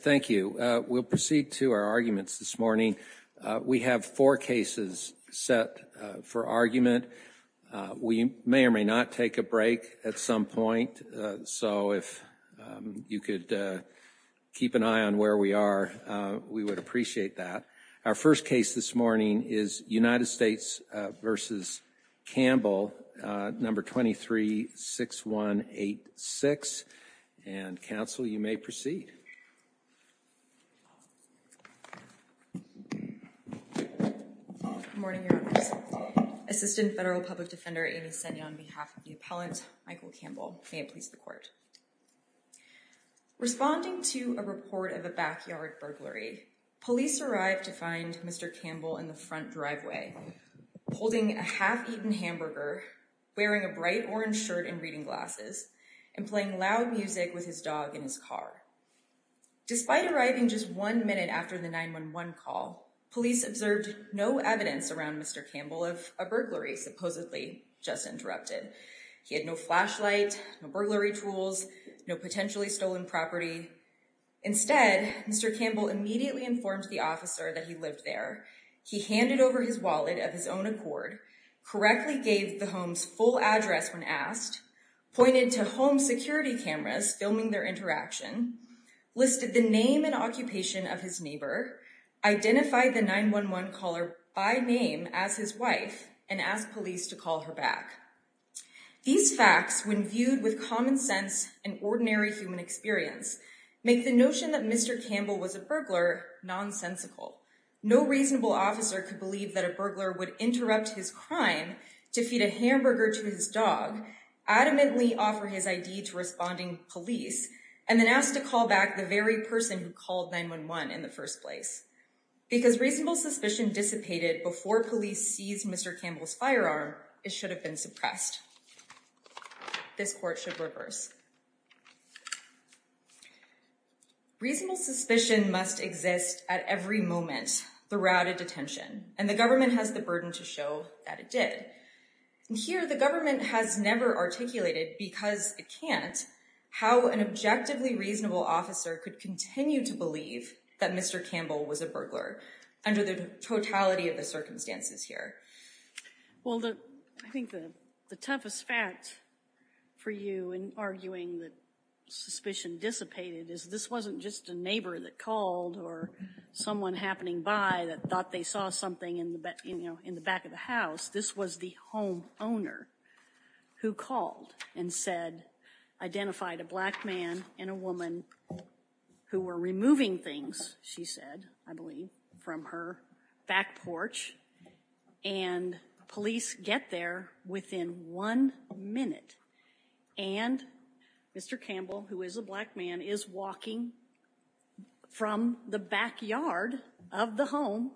Thank you. We'll proceed to our arguments this morning. We have four cases set for argument. We may or may not take a break at some point, so if you could keep an eye on where we are, we would appreciate that. Our first case this morning is United States v. Campbell, number 23-6186, and counsel, you may proceed. Amy Senna Good morning, Your Honors. Assistant Federal Public Defender Amy Senna on behalf of the appellant, Michael Campbell. May it please the Court. Responding to a report of a backyard burglary, police arrived to find Mr. Campbell in the front driveway, holding a half-eaten hamburger, wearing a bright orange shirt and reading glasses, and playing loud music with his dog in his car. Despite arriving just one minute after the 911 call, police observed no evidence around Mr. Campbell of a burglary supposedly just interrupted. He had no flashlight, no burglary tools, no potentially He handed over his wallet of his own accord, correctly gave the home's full address when asked, pointed to home security cameras filming their interaction, listed the name and occupation of his neighbor, identified the 911 caller by name as his wife, and asked police to call her back. These facts, when viewed with common sense and ordinary human experience, make the notion that Mr. Campbell was a burglar nonsensical. No reasonable officer could believe that a burglar would interrupt his crime to feed a hamburger to his dog, adamantly offer his ID to responding police, and then ask to call back the very person who called 911 in the first place. Because reasonable suspicion dissipated before police seized Mr. Campbell's Reasonable suspicion must exist at every moment throughout a detention, and the government has the burden to show that it did. Here, the government has never articulated, because it can't, how an objectively reasonable officer could continue to believe that Mr. Campbell was a burglar under the totality of the circumstances here. Well, I think the toughest fact for you in arguing that suspicion dissipated is this wasn't just a neighbor that called or someone happening by that thought they saw something in the back of the house. This was the homeowner who called and said, identified a black man and a woman who were removing things, she said, I believe, from her back porch, and police get there within one minute. And Mr. Campbell, who is a black man, is walking from the backyard of the home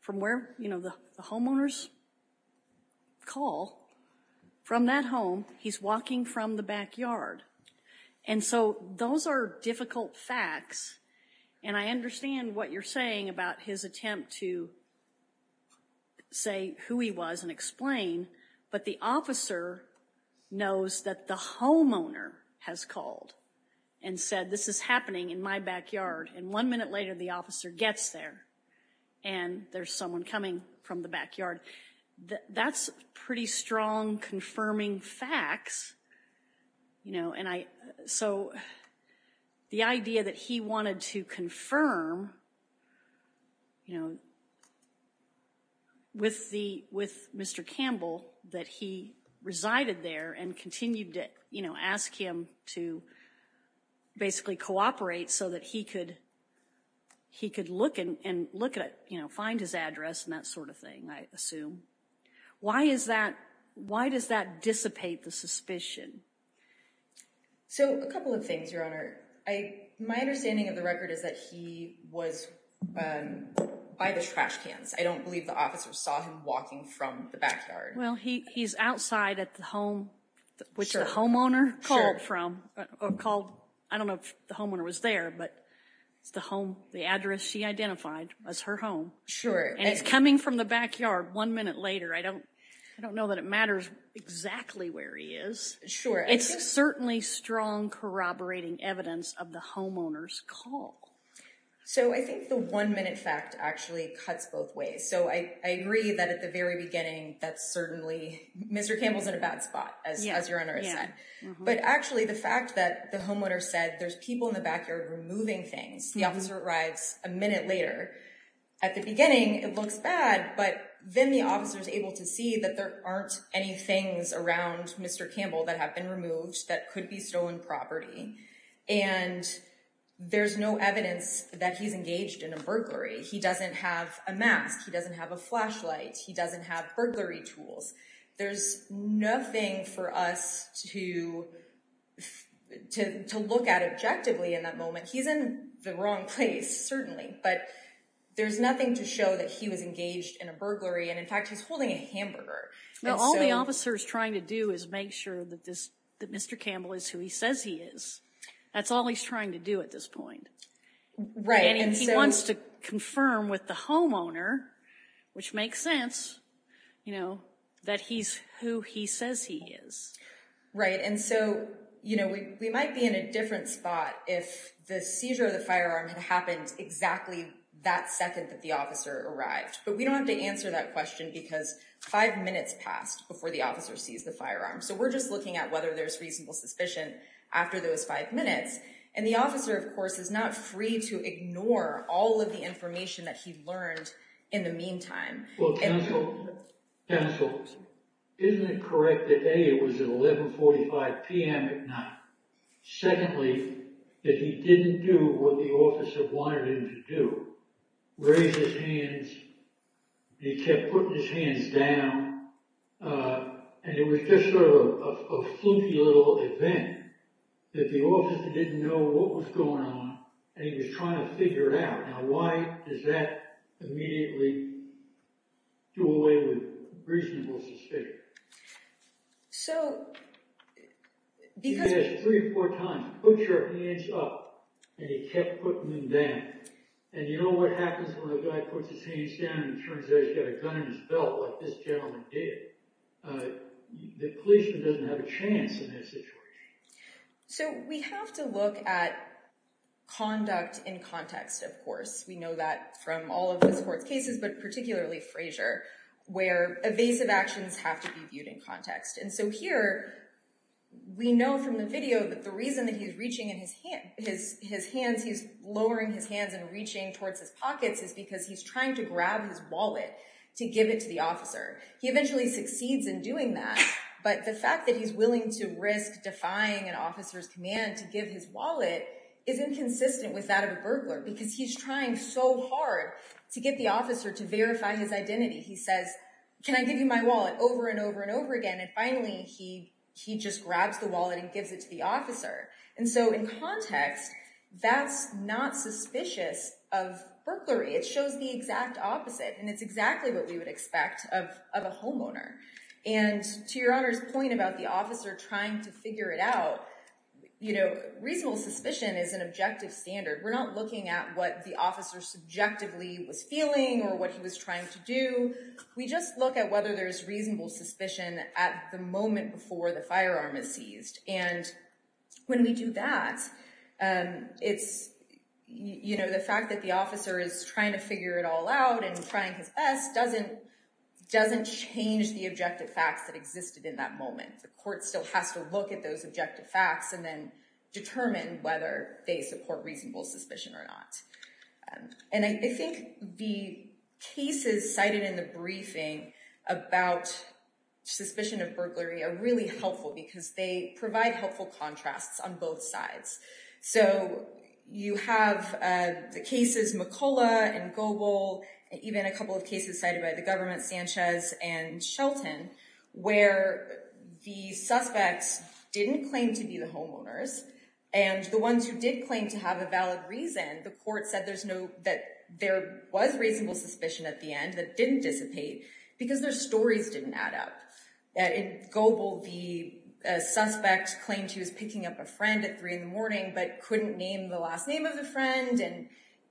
from where, you know, the homeowners call from that home. He's walking from the backyard. And so those are difficult facts. And I understand what you're saying about his attempt to say who he was and explain. But the officer knows that the homeowner has called and said, this is happening in my backyard. And one minute later, the officer gets there and there's someone coming from the backyard. That's pretty strong confirming facts, you know. So the idea that he wanted to confirm, you know, with Mr. Campbell that he resided there and continued to, you know, ask him to basically cooperate so that he could look and find his address and that sort of thing, I assume. Why is that, why does that dissipate the suspicion? So a couple of things, Your Honor. My understanding of the record is that he was by the trash cans. I don't believe the officer saw him walking from the backyard. Well, he's outside at the home, which the homeowner called from, or called, I don't know if the homeowner was there, but it's the home, the address she identified as her home. And he's coming from the backyard one minute later. I don't know that it matters exactly where he is. Sure. It's certainly strong corroborating evidence of the homeowner's call. So I think the one minute fact actually cuts both ways. So I agree that at the very beginning, that's certainly, Mr. Campbell's in a bad spot, as Your Honor has said. But actually the fact that the homeowner said there's people in the backyard removing things, the officer arrives a minute later. At the beginning, it looks bad, but then the officer's able to see that there aren't any things around Mr. Campbell that have been removed that could be stolen property. And there's no evidence that he's engaged in a burglary. He doesn't have a mask. He doesn't have a flashlight. He doesn't have burglary tools. There's nothing for us to look at objectively in that moment. He's in the wrong place, certainly, but there's nothing to show that he was engaged in a burglary. And in fact, he's holding a hamburger. All the officer's trying to do is make sure that Mr. Campbell is who he says he is. That's all he's trying to do at this point. He wants to confirm with the homeowner, which makes sense, that he's who he says he is. Right. And so we might be in a different spot if the seizure of the firearm had happened exactly that second that the officer arrived. But we don't have to answer that question because five minutes passed before the officer sees the firearm. So we're just looking at whether there's reasonable suspicion after those five minutes. And the officer, of course, is not free to ignore all of the information that he learned in the meantime. Counsel, isn't it correct that A, it was at 11.45 p.m. at night? Secondly, that he didn't do what the officer wanted him to do. Raised his hands. He kept putting his hands down. And it was just sort of a fluky little event that the officer didn't know what was going on and he was trying to figure it out. Now, why does that immediately do away with reasonable suspicion? So, because... So we have to look at conduct in context, of course. We know that from all of the sports cases, but particularly Frazier, where evasive actions have to be viewed in context. And so here, we know from the video that the reason that he's reaching his hands, he's lowering his hands and reaching towards his pockets is because he's trying to grab his wallet to give it to the officer. He eventually succeeds in doing that, but the fact that he's willing to risk defying an officer's command to give his wallet is inconsistent with that of a identity. He says, can I give you my wallet? Over and over and over again. And finally, he just grabs the wallet and gives it to the officer. And so in context, that's not suspicious of burglary. It shows the exact opposite. And it's exactly what we would expect of a homeowner. And to Your Honor's point about the officer trying to figure it out, reasonable suspicion is an objective standard. We're not looking at what the officer subjectively was feeling or what he was trying to do. We just look at whether there's reasonable suspicion at the moment before the firearm is seized. And when we do that, the fact that the officer is trying to figure it all out and trying his best doesn't change the objective facts that existed in that moment. The court still has to look at those objective facts and then determine whether they support reasonable suspicion or not. And I think the cases cited in the briefing about suspicion of burglary are really helpful because they provide helpful contrasts on both sides. So you have the cases McCullough and Goble, and even a couple of cases cited by the government, Sanchez and Shelton, where the suspects didn't claim to be the homeowners. And the ones who did claim to have a valid reason, the court said that there was reasonable suspicion at the end that didn't dissipate because their stories didn't add up. In Goble, the suspect claimed he was picking up a friend at 3 in the morning but couldn't name the last name of the friend and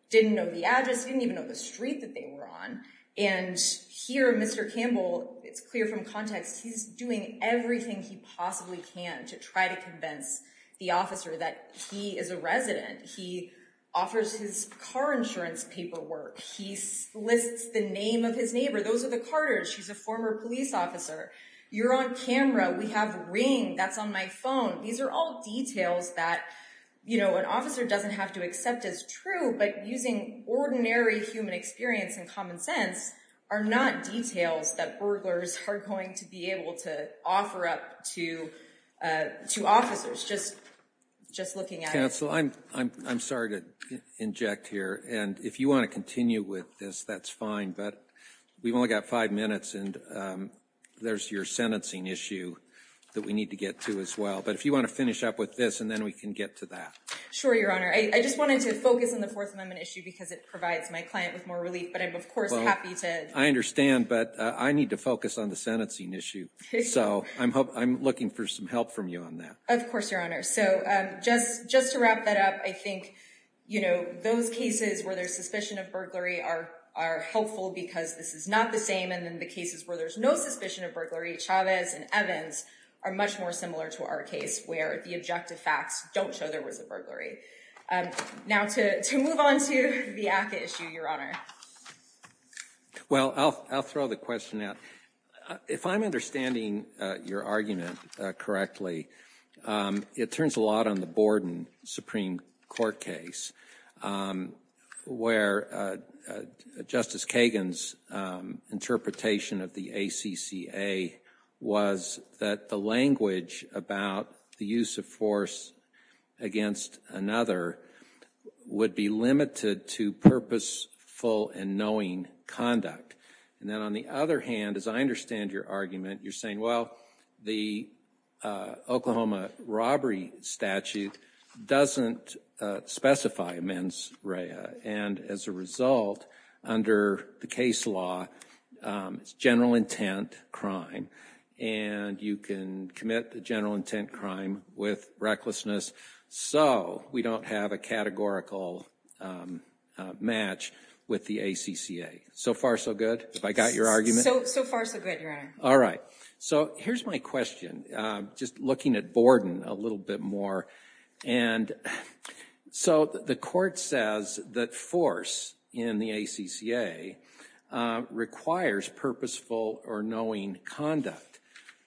didn't know the address, didn't even know the street that they were on. And here, Mr. Campbell, it's clear from context, he's doing everything he possibly can to try to convince the officer that he is a resident. He offers his car insurance paperwork. He lists the name of his neighbor. Those are the carters. She's a former police officer. You're on camera. We have ring. That's on my phone. These are all details that, you know, an officer doesn't have to accept as true, but using ordinary human experience and common sense are not details that burglars are going to be able to offer up to officers. Just looking at it. Counsel, I'm sorry to inject here. And if you want to continue with this, that's fine. But we've only got five minutes and there's your sentencing issue that we need to get to as well. But if you want to finish up with this and then we can get to that. Sure, Your Honor. I just wanted to focus on the Fourth Amendment issue because it provides my client with more relief. But I'm, of course, happy to. I understand. But I need to focus on the sentencing issue. So I'm hoping I'm looking for some help from you on that. Of course, Your Honor. So just just to wrap that up, I think, you know, those cases where there's suspicion of burglary are are helpful because this is not the same. And then the cases where there's no suspicion of burglary, Chavez and Evans are much more similar to our case where the objective facts don't show there was a burglary. Now to move on to the issue, Your Honor. Well, I'll throw the question out. If I'm understanding your argument correctly, it turns a lot on the Borden Supreme Court case where Justice Kagan's interpretation of the ACCA was that the language about the use of force against another would be limited to purposeful and knowing conduct. And then on the other hand, as I understand your argument, you're saying, well, the Oklahoma robbery statute doesn't specify mens rea. And as a result, under the case law, it's general intent crime. And you can commit the general intent crime with recklessness. So we don't have a categorical match with the ACCA. So far, so good. If I got your argument so far, so good. All right. So here's my question. Just looking at Borden a little bit more. And so the court says that force in the ACCA requires purposeful or knowing conduct.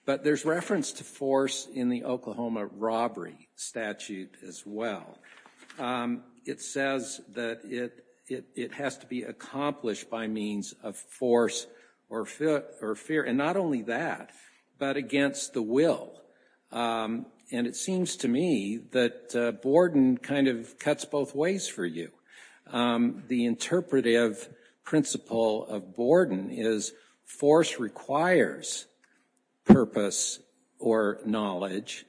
But there's reference to force in the Oklahoma robbery statute as well. It says that it has to be accomplished by means of force or fear. And not only that, but against the will. And it seems to me that Borden kind of cuts both ways for you. The interpretive principle of Borden is force requires purpose or knowledge.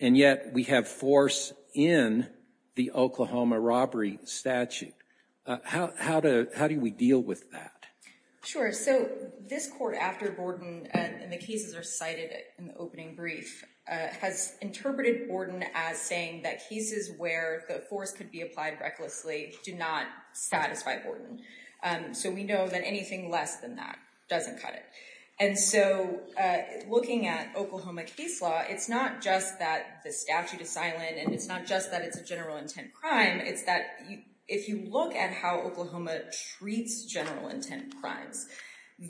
And yet we have force in the Oklahoma robbery statute. How do we deal with that? Sure. So this court, after Borden and the cases are cited in the opening brief, has interpreted Borden as saying that cases where the force could be applied recklessly do not satisfy Borden. So we know that anything less than that doesn't cut it. And so looking at Oklahoma case law, it's not just that the statute is silent and it's not just that it's a general intent crime. It's that if you look at how Oklahoma treats general intent crimes,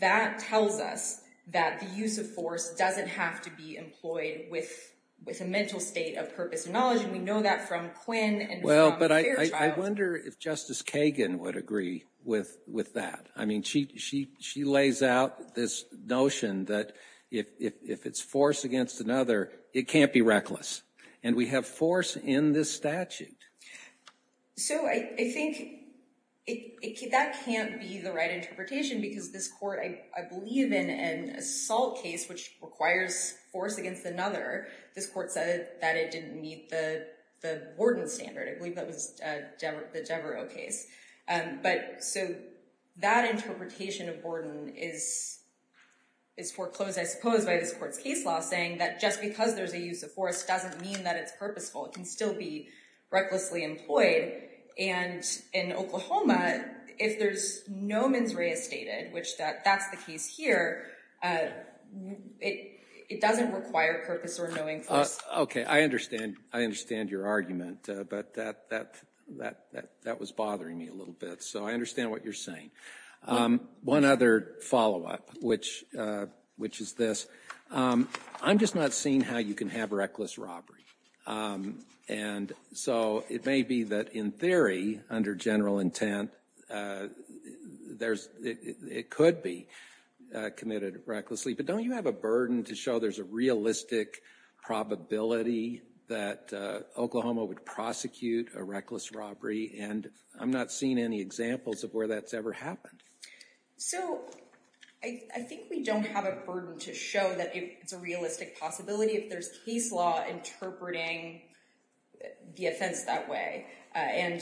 that tells us that the use of force doesn't have to be employed with a mental state of purpose and knowledge. And we know that from Quinn and from Fairchild. Well, but I wonder if Justice Kagan would agree with that. I mean, she lays out this notion that if it's force against another, it can't be reckless. And we have force in this statute. So I think that can't be the right interpretation because this court, I believe in an assault case which requires force against another, this court said that it didn't meet the Borden standard. I believe that was the Devereux case. But so that interpretation of Borden is foreclosed, I suppose, by this court's case law saying that just because there's a use of force doesn't mean that it's purposeful. It can still be recklessly employed. And in Oklahoma, if there's no mens rea stated, which that's the case here, it doesn't require purpose or knowing force. Okay, I understand. I understand your argument. But that was bothering me a little bit. So I understand what you're saying. One other follow up, which is this. I'm just not seeing how you can have reckless robbery. And so it may be that in theory, under general intent, there's it could be committed recklessly. But don't you have a burden to show there's a realistic probability that Oklahoma would prosecute a reckless robbery? And I'm not seeing any examples of where that's ever happened. So I think we don't have a burden to show that it's a realistic possibility if there's case law interpreting the offense that way. And,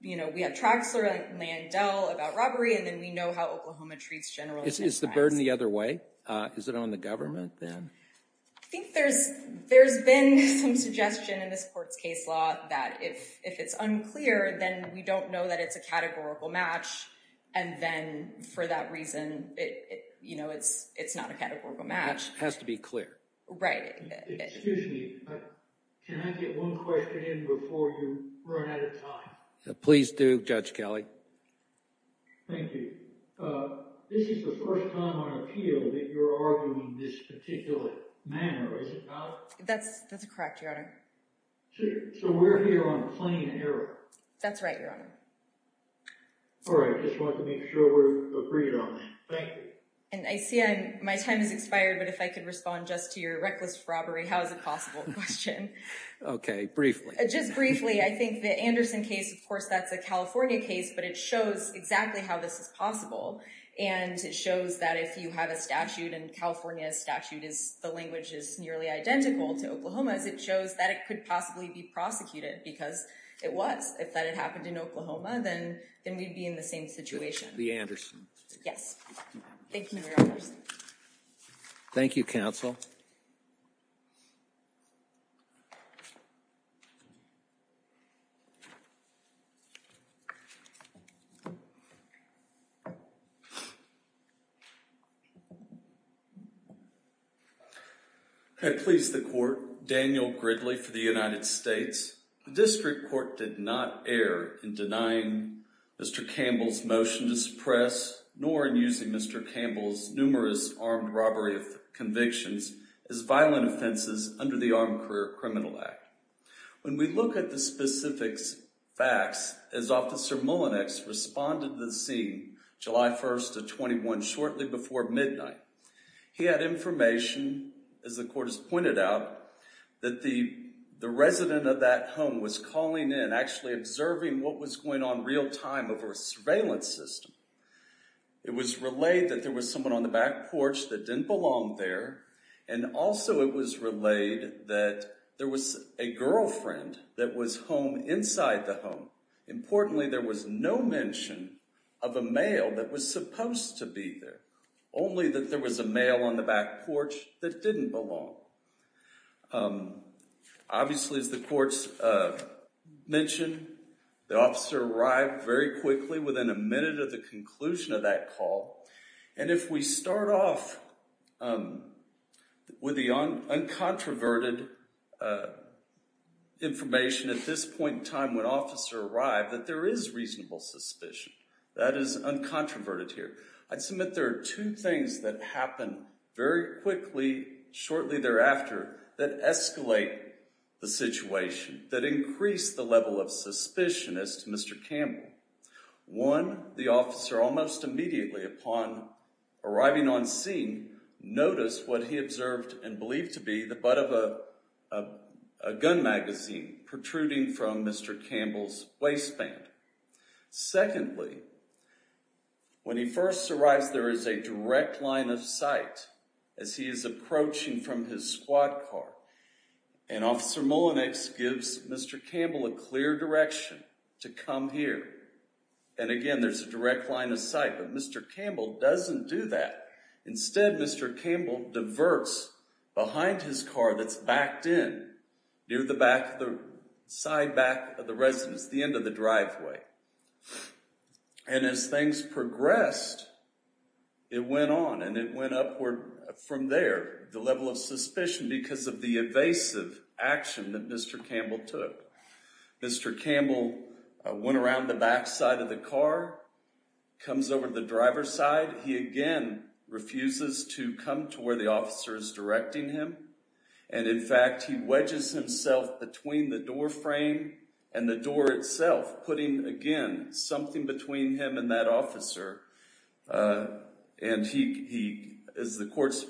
you know, we have Traxler and Landell about robbery, and then we know how Oklahoma treats generals. Is the burden the other way? Is it on the government then? I think there's there's been some suggestion in this court's case law that if it's unclear, then we don't know that it's a categorical match. And then for that reason, you know, it's it's not a categorical match. Has to be clear. Right. Excuse me. Can I get one question in before you run out of time? Please do, Judge Kelly. Thank you. This is the first time on appeal that you're arguing this particular manner. Is it not? That's that's correct, Your Honor. So we're here on plain error. That's right, Your Honor. All right. I just want to make sure we're agreed on. Thank you. And I see my time has expired, but if I could respond just to your reckless robbery, how is it possible question? Okay, briefly, just briefly. I think the Anderson case, of course, that's a California case, but it shows exactly how this is possible. And it shows that if you have a statute in California statute is the language is nearly identical to Oklahoma's. It shows that it could possibly be prosecuted because it was if that had happened in Oklahoma, then then we'd be in the same situation. The Anderson. Yes. Thank you. Thank you, counsel. I please the court. Daniel Gridley for the United States District Court did not err in denying Mr. Campbell's motion to suppress nor in using Mr. Campbell's numerous armed robbery of convictions as violent offenses under the Armed Career Criminal Act. When we look at the specifics facts as officer Mullinex responded to the scene July 1st of 21 shortly before midnight. He had information as the court is pointed out that the the resident of that home was calling in actually observing. What was going on real time of a surveillance system? It was relayed that there was someone on the back porch that didn't belong there. And also it was relayed that there was a girlfriend that was home inside the home. Importantly, there was no mention of a male that was supposed to be there. Only that there was a male on the back porch that didn't belong. Obviously, as the courts mentioned, the officer arrived very quickly within a minute of the conclusion of that call. And if we start off with the uncontroverted information at this point in time, when officer arrived that there is reasonable suspicion that is uncontroverted here. I'd submit there are two things that happen very quickly shortly thereafter that escalate the situation, that increase the level of suspicion as to Mr. Campbell. One, the officer almost immediately upon arriving on scene, noticed what he observed and believed to be the butt of a gun magazine protruding from Mr. Campbell's waistband. Secondly, when he first arrives, there is a direct line of sight as he is approaching from his squad car. And officer Mullenix gives Mr. Campbell a clear direction to come here. And again, there's a direct line of sight, but Mr. Campbell doesn't do that. Instead, Mr. Campbell diverts behind his car that's backed in, near the back, the side back of the residence, the end of the driveway. And as things progressed, it went on and it went upward from there. The level of suspicion because of the evasive action that Mr. Campbell took. Mr. Campbell went around the back side of the car, comes over the driver's side. He again refuses to come to where the officer is directing him. And in fact, he wedges himself between the door frame and the door itself, putting again, something between him and that officer. And he, as the courts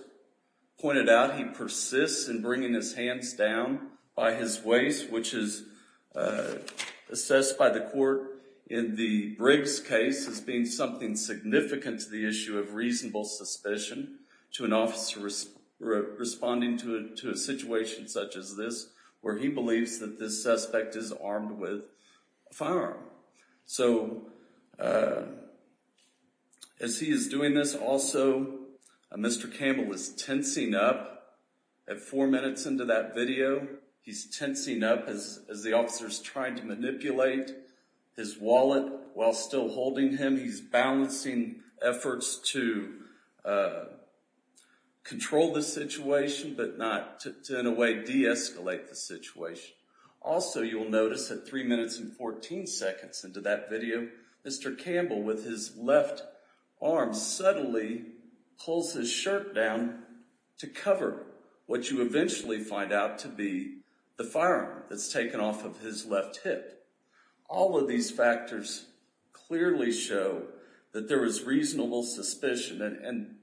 pointed out, he persists in bringing his hands down by his waist, which is assessed by the court in the Briggs case as being something significant to the issue of reasonable suspicion. To an officer responding to a situation such as this, where he believes that this suspect is armed with a firearm. So, as he is doing this also, Mr. Campbell is tensing up at four minutes into that video. He's tensing up as the officer's trying to manipulate his wallet while still holding him. He's balancing efforts to control the situation, but not to, in a way, de-escalate the situation. Also, you'll notice at three minutes and 14 seconds into that video, Mr. Campbell with his left arm subtly pulls his shirt down to cover what you eventually find out to be the firearm that's taken off of his left hip. All of these factors clearly show that there is reasonable suspicion. And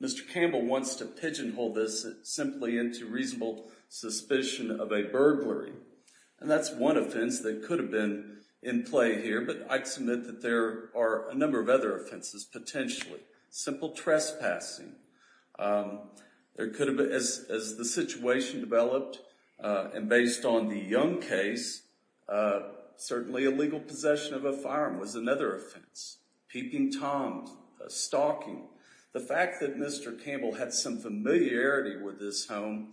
Mr. Campbell wants to pigeonhole this simply into reasonable suspicion of a burglary. And that's one offense that could have been in play here. But I'd submit that there are a number of other offenses potentially. Simple trespassing. As the situation developed, and based on the Young case, certainly illegal possession of a firearm was another offense. Peeping Tom, stalking. The fact that Mr. Campbell had some familiarity with this home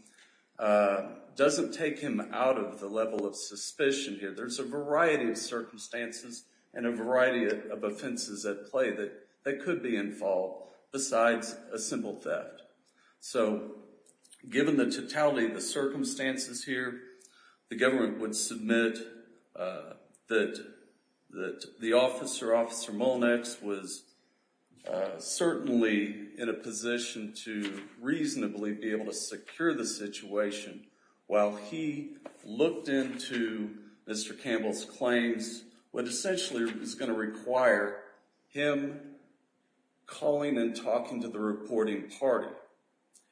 doesn't take him out of the level of suspicion here. There's a variety of circumstances and a variety of offenses at play that could be in fault besides a simple theft. So, given the totality of the circumstances here, the government would submit that the officer, Officer Molnax, was certainly in a position to reasonably be able to secure the situation while he looked into Mr. Campbell's claims, what essentially is going to require him calling and talking to the reporting party.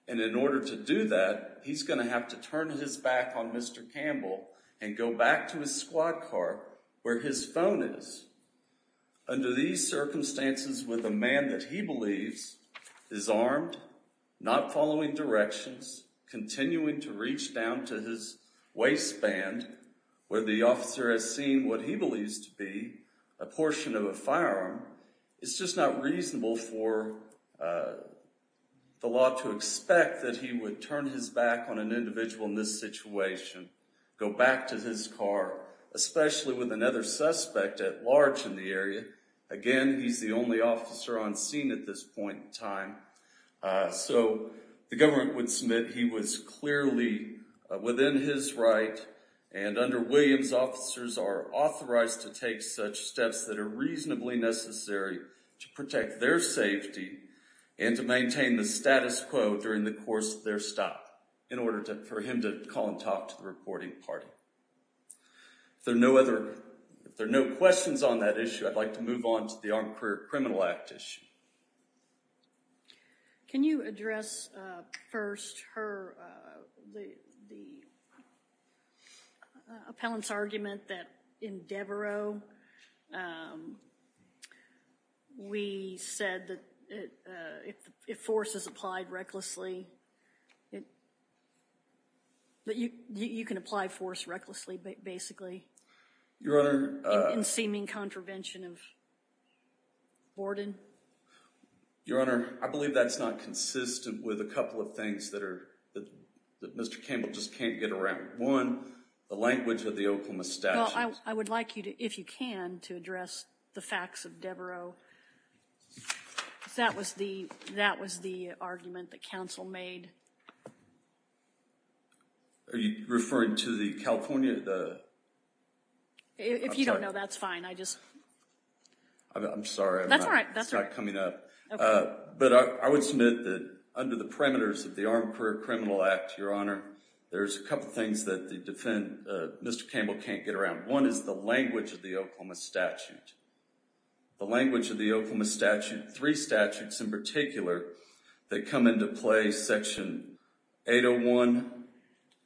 And in order to do that, he's going to have to turn his back on Mr. Campbell and go back to his squad car where his phone is. Under these circumstances, with a man that he believes is armed, not following directions, continuing to reach down to his waistband, where the officer has seen what he believes to be a portion of a firearm, it's just not reasonable for the law to expect that he would turn his back on an individual in this situation, go back to his car, especially with another suspect at large in the area. Again, he's the only officer on scene at this point in time. So, the government would submit he was clearly within his right and under Williams, officers are authorized to take such steps that are reasonably necessary to protect their safety and to maintain the status quo during the course of their stop in order for him to call and talk to the reporting party. If there are no questions on that issue, I'd like to move on to the Armed Career Criminal Act issue. Can you address first her, the appellant's argument that in Devereaux, we said that if force is applied recklessly, that you can apply force recklessly, basically. Your Honor. In seeming contravention of Borden. Your Honor, I believe that's not consistent with a couple of things that Mr. Campbell just can't get around. One, the language of the Oklahoma statute. Well, I would like you to, if you can, to address the facts of Devereaux. That was the argument that counsel made. Are you referring to the California? If you don't know, that's fine. I'm sorry, it's not coming up. But I would submit that under the parameters of the Armed Career Criminal Act, Your Honor, there's a couple of things that Mr. Campbell can't get around. One is the language of the Oklahoma statute. The language of the Oklahoma statute, three statutes in particular, that come into play, section 801,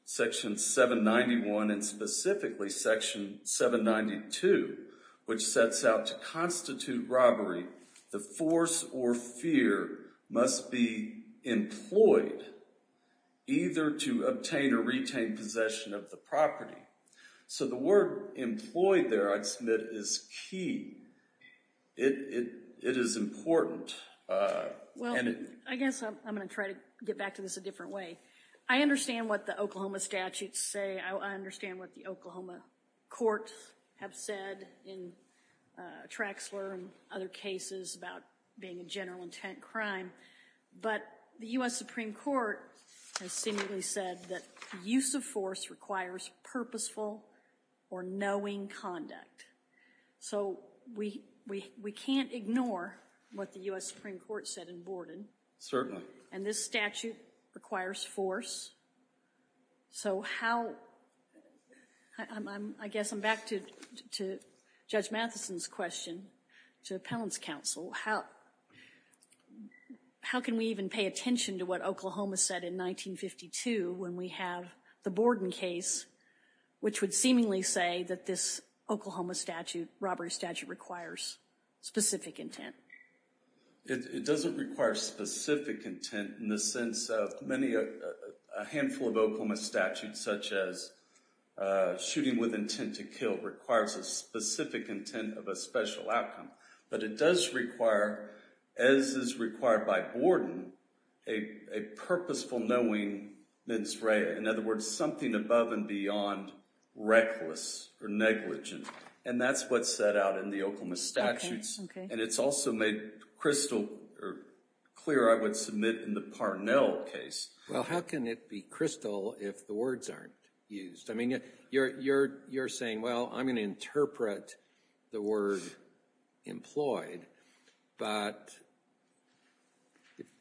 section 791, and specifically section 792, which sets out to constitute robbery, the force or fear must be employed either to obtain or retain possession of the property. So the word employed there, I'd submit, is key. It is important. Well, I guess I'm going to try to get back to this a different way. I understand what the Oklahoma statutes say. I understand what the Oklahoma courts have said in Traxler and other cases about being a general intent crime. But the U.S. Supreme Court has seemingly said that use of force requires purposeful or knowing conduct. So we can't ignore what the U.S. Supreme Court said in Borden. Certainly. And this statute requires force. So how, I guess I'm back to Judge Matheson's question, to Appellant's counsel. How can we even pay attention to what Oklahoma said in 1952 when we have the Borden case, which would seemingly say that this Oklahoma statute, robbery statute, requires specific intent? It doesn't require specific intent in the sense of many, a handful of Oklahoma statutes, such as shooting with intent to kill, requires a specific intent of a special outcome. But it does require, as is required by Borden, a purposeful knowing mens rea. In other words, something above and beyond reckless or negligent. And that's what's set out in the Oklahoma statutes. And it's also made crystal clear, I would submit, in the Parnell case. Well, how can it be crystal if the words aren't used? I mean, you're saying, well, I'm going to interpret the word employed. But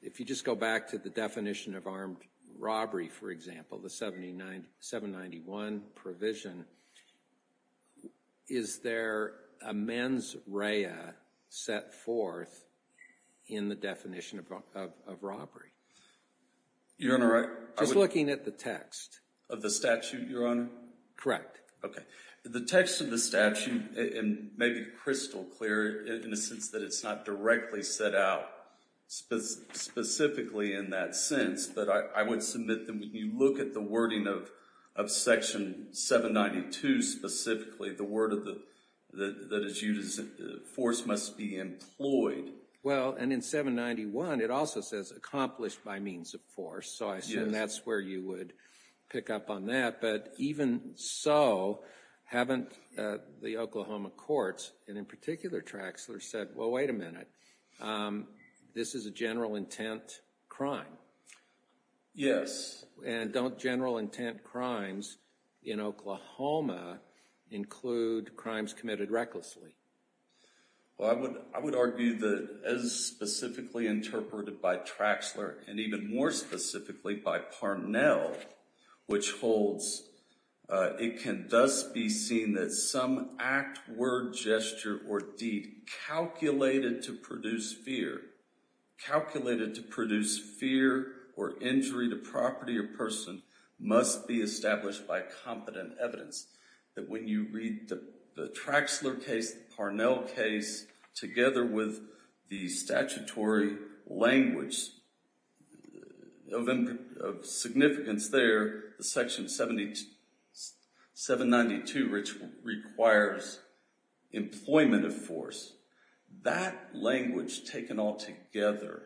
if you just go back to the definition of armed robbery, for example, the 791 provision, is there a mens rea set forth in the definition of robbery? Your Honor, I would— Just looking at the text. Of the statute, Your Honor? Correct. Okay. The text of the statute may be crystal clear in the sense that it's not directly set out specifically in that sense. But I would submit that when you look at the wording of Section 792 specifically, the word that is used is force must be employed. Well, and in 791, it also says accomplished by means of force. So I assume that's where you would pick up on that. But even so, haven't the Oklahoma courts, and in particular, Traxler, said, well, wait a minute, this is a general intent crime? Yes. And don't general intent crimes in Oklahoma include crimes committed recklessly? Well, I would argue that as specifically interpreted by Traxler, and even more specifically by Parnell, which holds, it can thus be seen that some act, word, gesture, or deed calculated to produce fear, calculated to produce fear or injury to property or person must be established by competent evidence. That when you read the Traxler case, the Parnell case, together with the statutory language of significance there, the Section 792, which requires employment of force, that language taken all together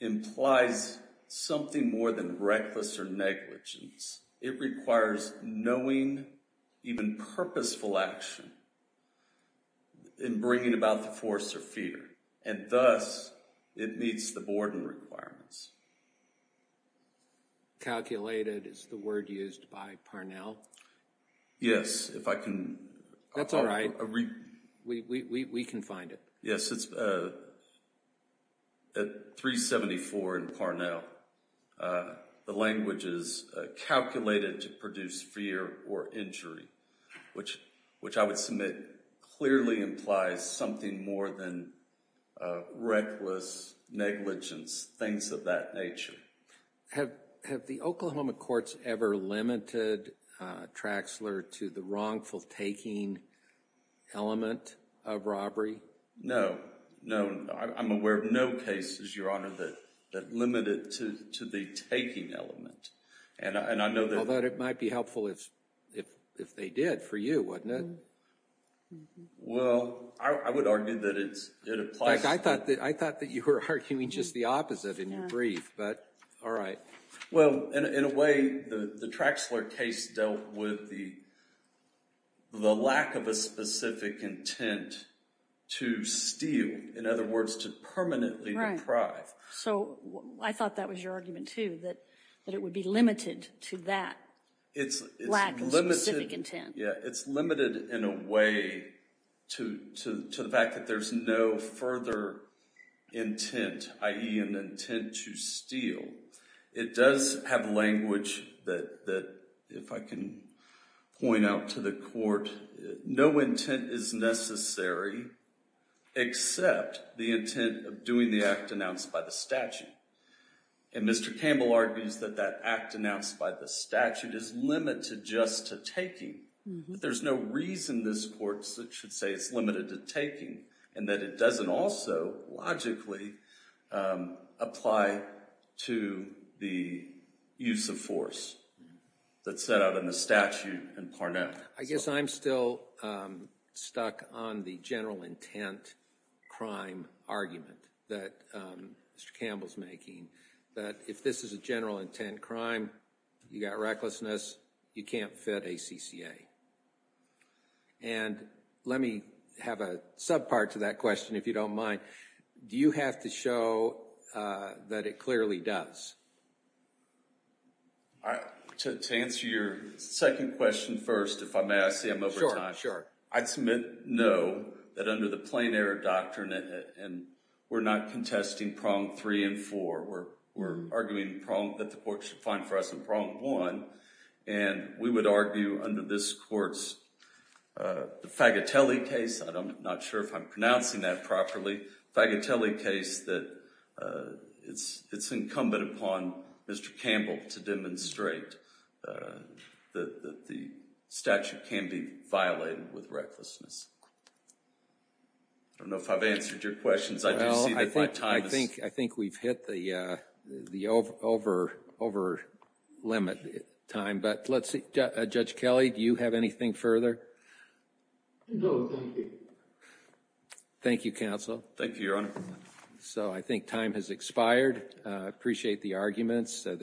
implies something more than reckless or negligence. It requires knowing even purposeful action in bringing about the force or fear. And thus, it meets the Borden requirements. Calculated is the word used by Parnell? That's all right. We can find it. Yes. At 374 in Parnell, the language is calculated to produce fear or injury, which I would submit clearly implies something more than reckless negligence, things of that nature. Have the Oklahoma courts ever limited Traxler to the wrongful taking element of robbery? No. I'm aware of no cases, Your Honor, that limit it to the taking element. Although it might be helpful if they did for you, wouldn't it? Well, I would argue that it applies. I thought that you were arguing just the opposite in your brief, but all right. Well, in a way, the Traxler case dealt with the lack of a specific intent to steal. In other words, to permanently deprive. So, I thought that was your argument, too, that it would be limited to that lack of specific intent. It's limited in a way to the fact that there's no further intent, i.e., an intent to steal. It does have language that, if I can point out to the court, no intent is necessary except the intent of doing the act announced by the statute. And Mr. Campbell argues that that act announced by the statute is limited just to taking. There's no reason this court should say it's limited to taking and that it doesn't also logically apply to the use of force that's set out in the statute in Parnell. I guess I'm still stuck on the general intent crime argument that Mr. Campbell's making, that if this is a general intent crime, you've got recklessness, you can't fit ACCA. And let me have a sub-part to that question, if you don't mind. Do you have to show that it clearly does? To answer your second question first, if I may, I see I'm over time. Sure, sure. I'd submit no, that under the plain error doctrine, we're not contesting prong three and four. We're arguing that the court should find for us in prong one. And we would argue under this court's Fagatelli case, I'm not sure if I'm pronouncing that properly, Fagatelli case that it's incumbent upon Mr. Campbell to demonstrate that the statute can be violated with recklessness. I don't know if I've answered your questions. I think we've hit the over-limit time, but let's see. Judge Kelly, do you have anything further? No, thank you. Thank you, Counsel. Thank you, Your Honor. So I think time has expired. I appreciate the arguments.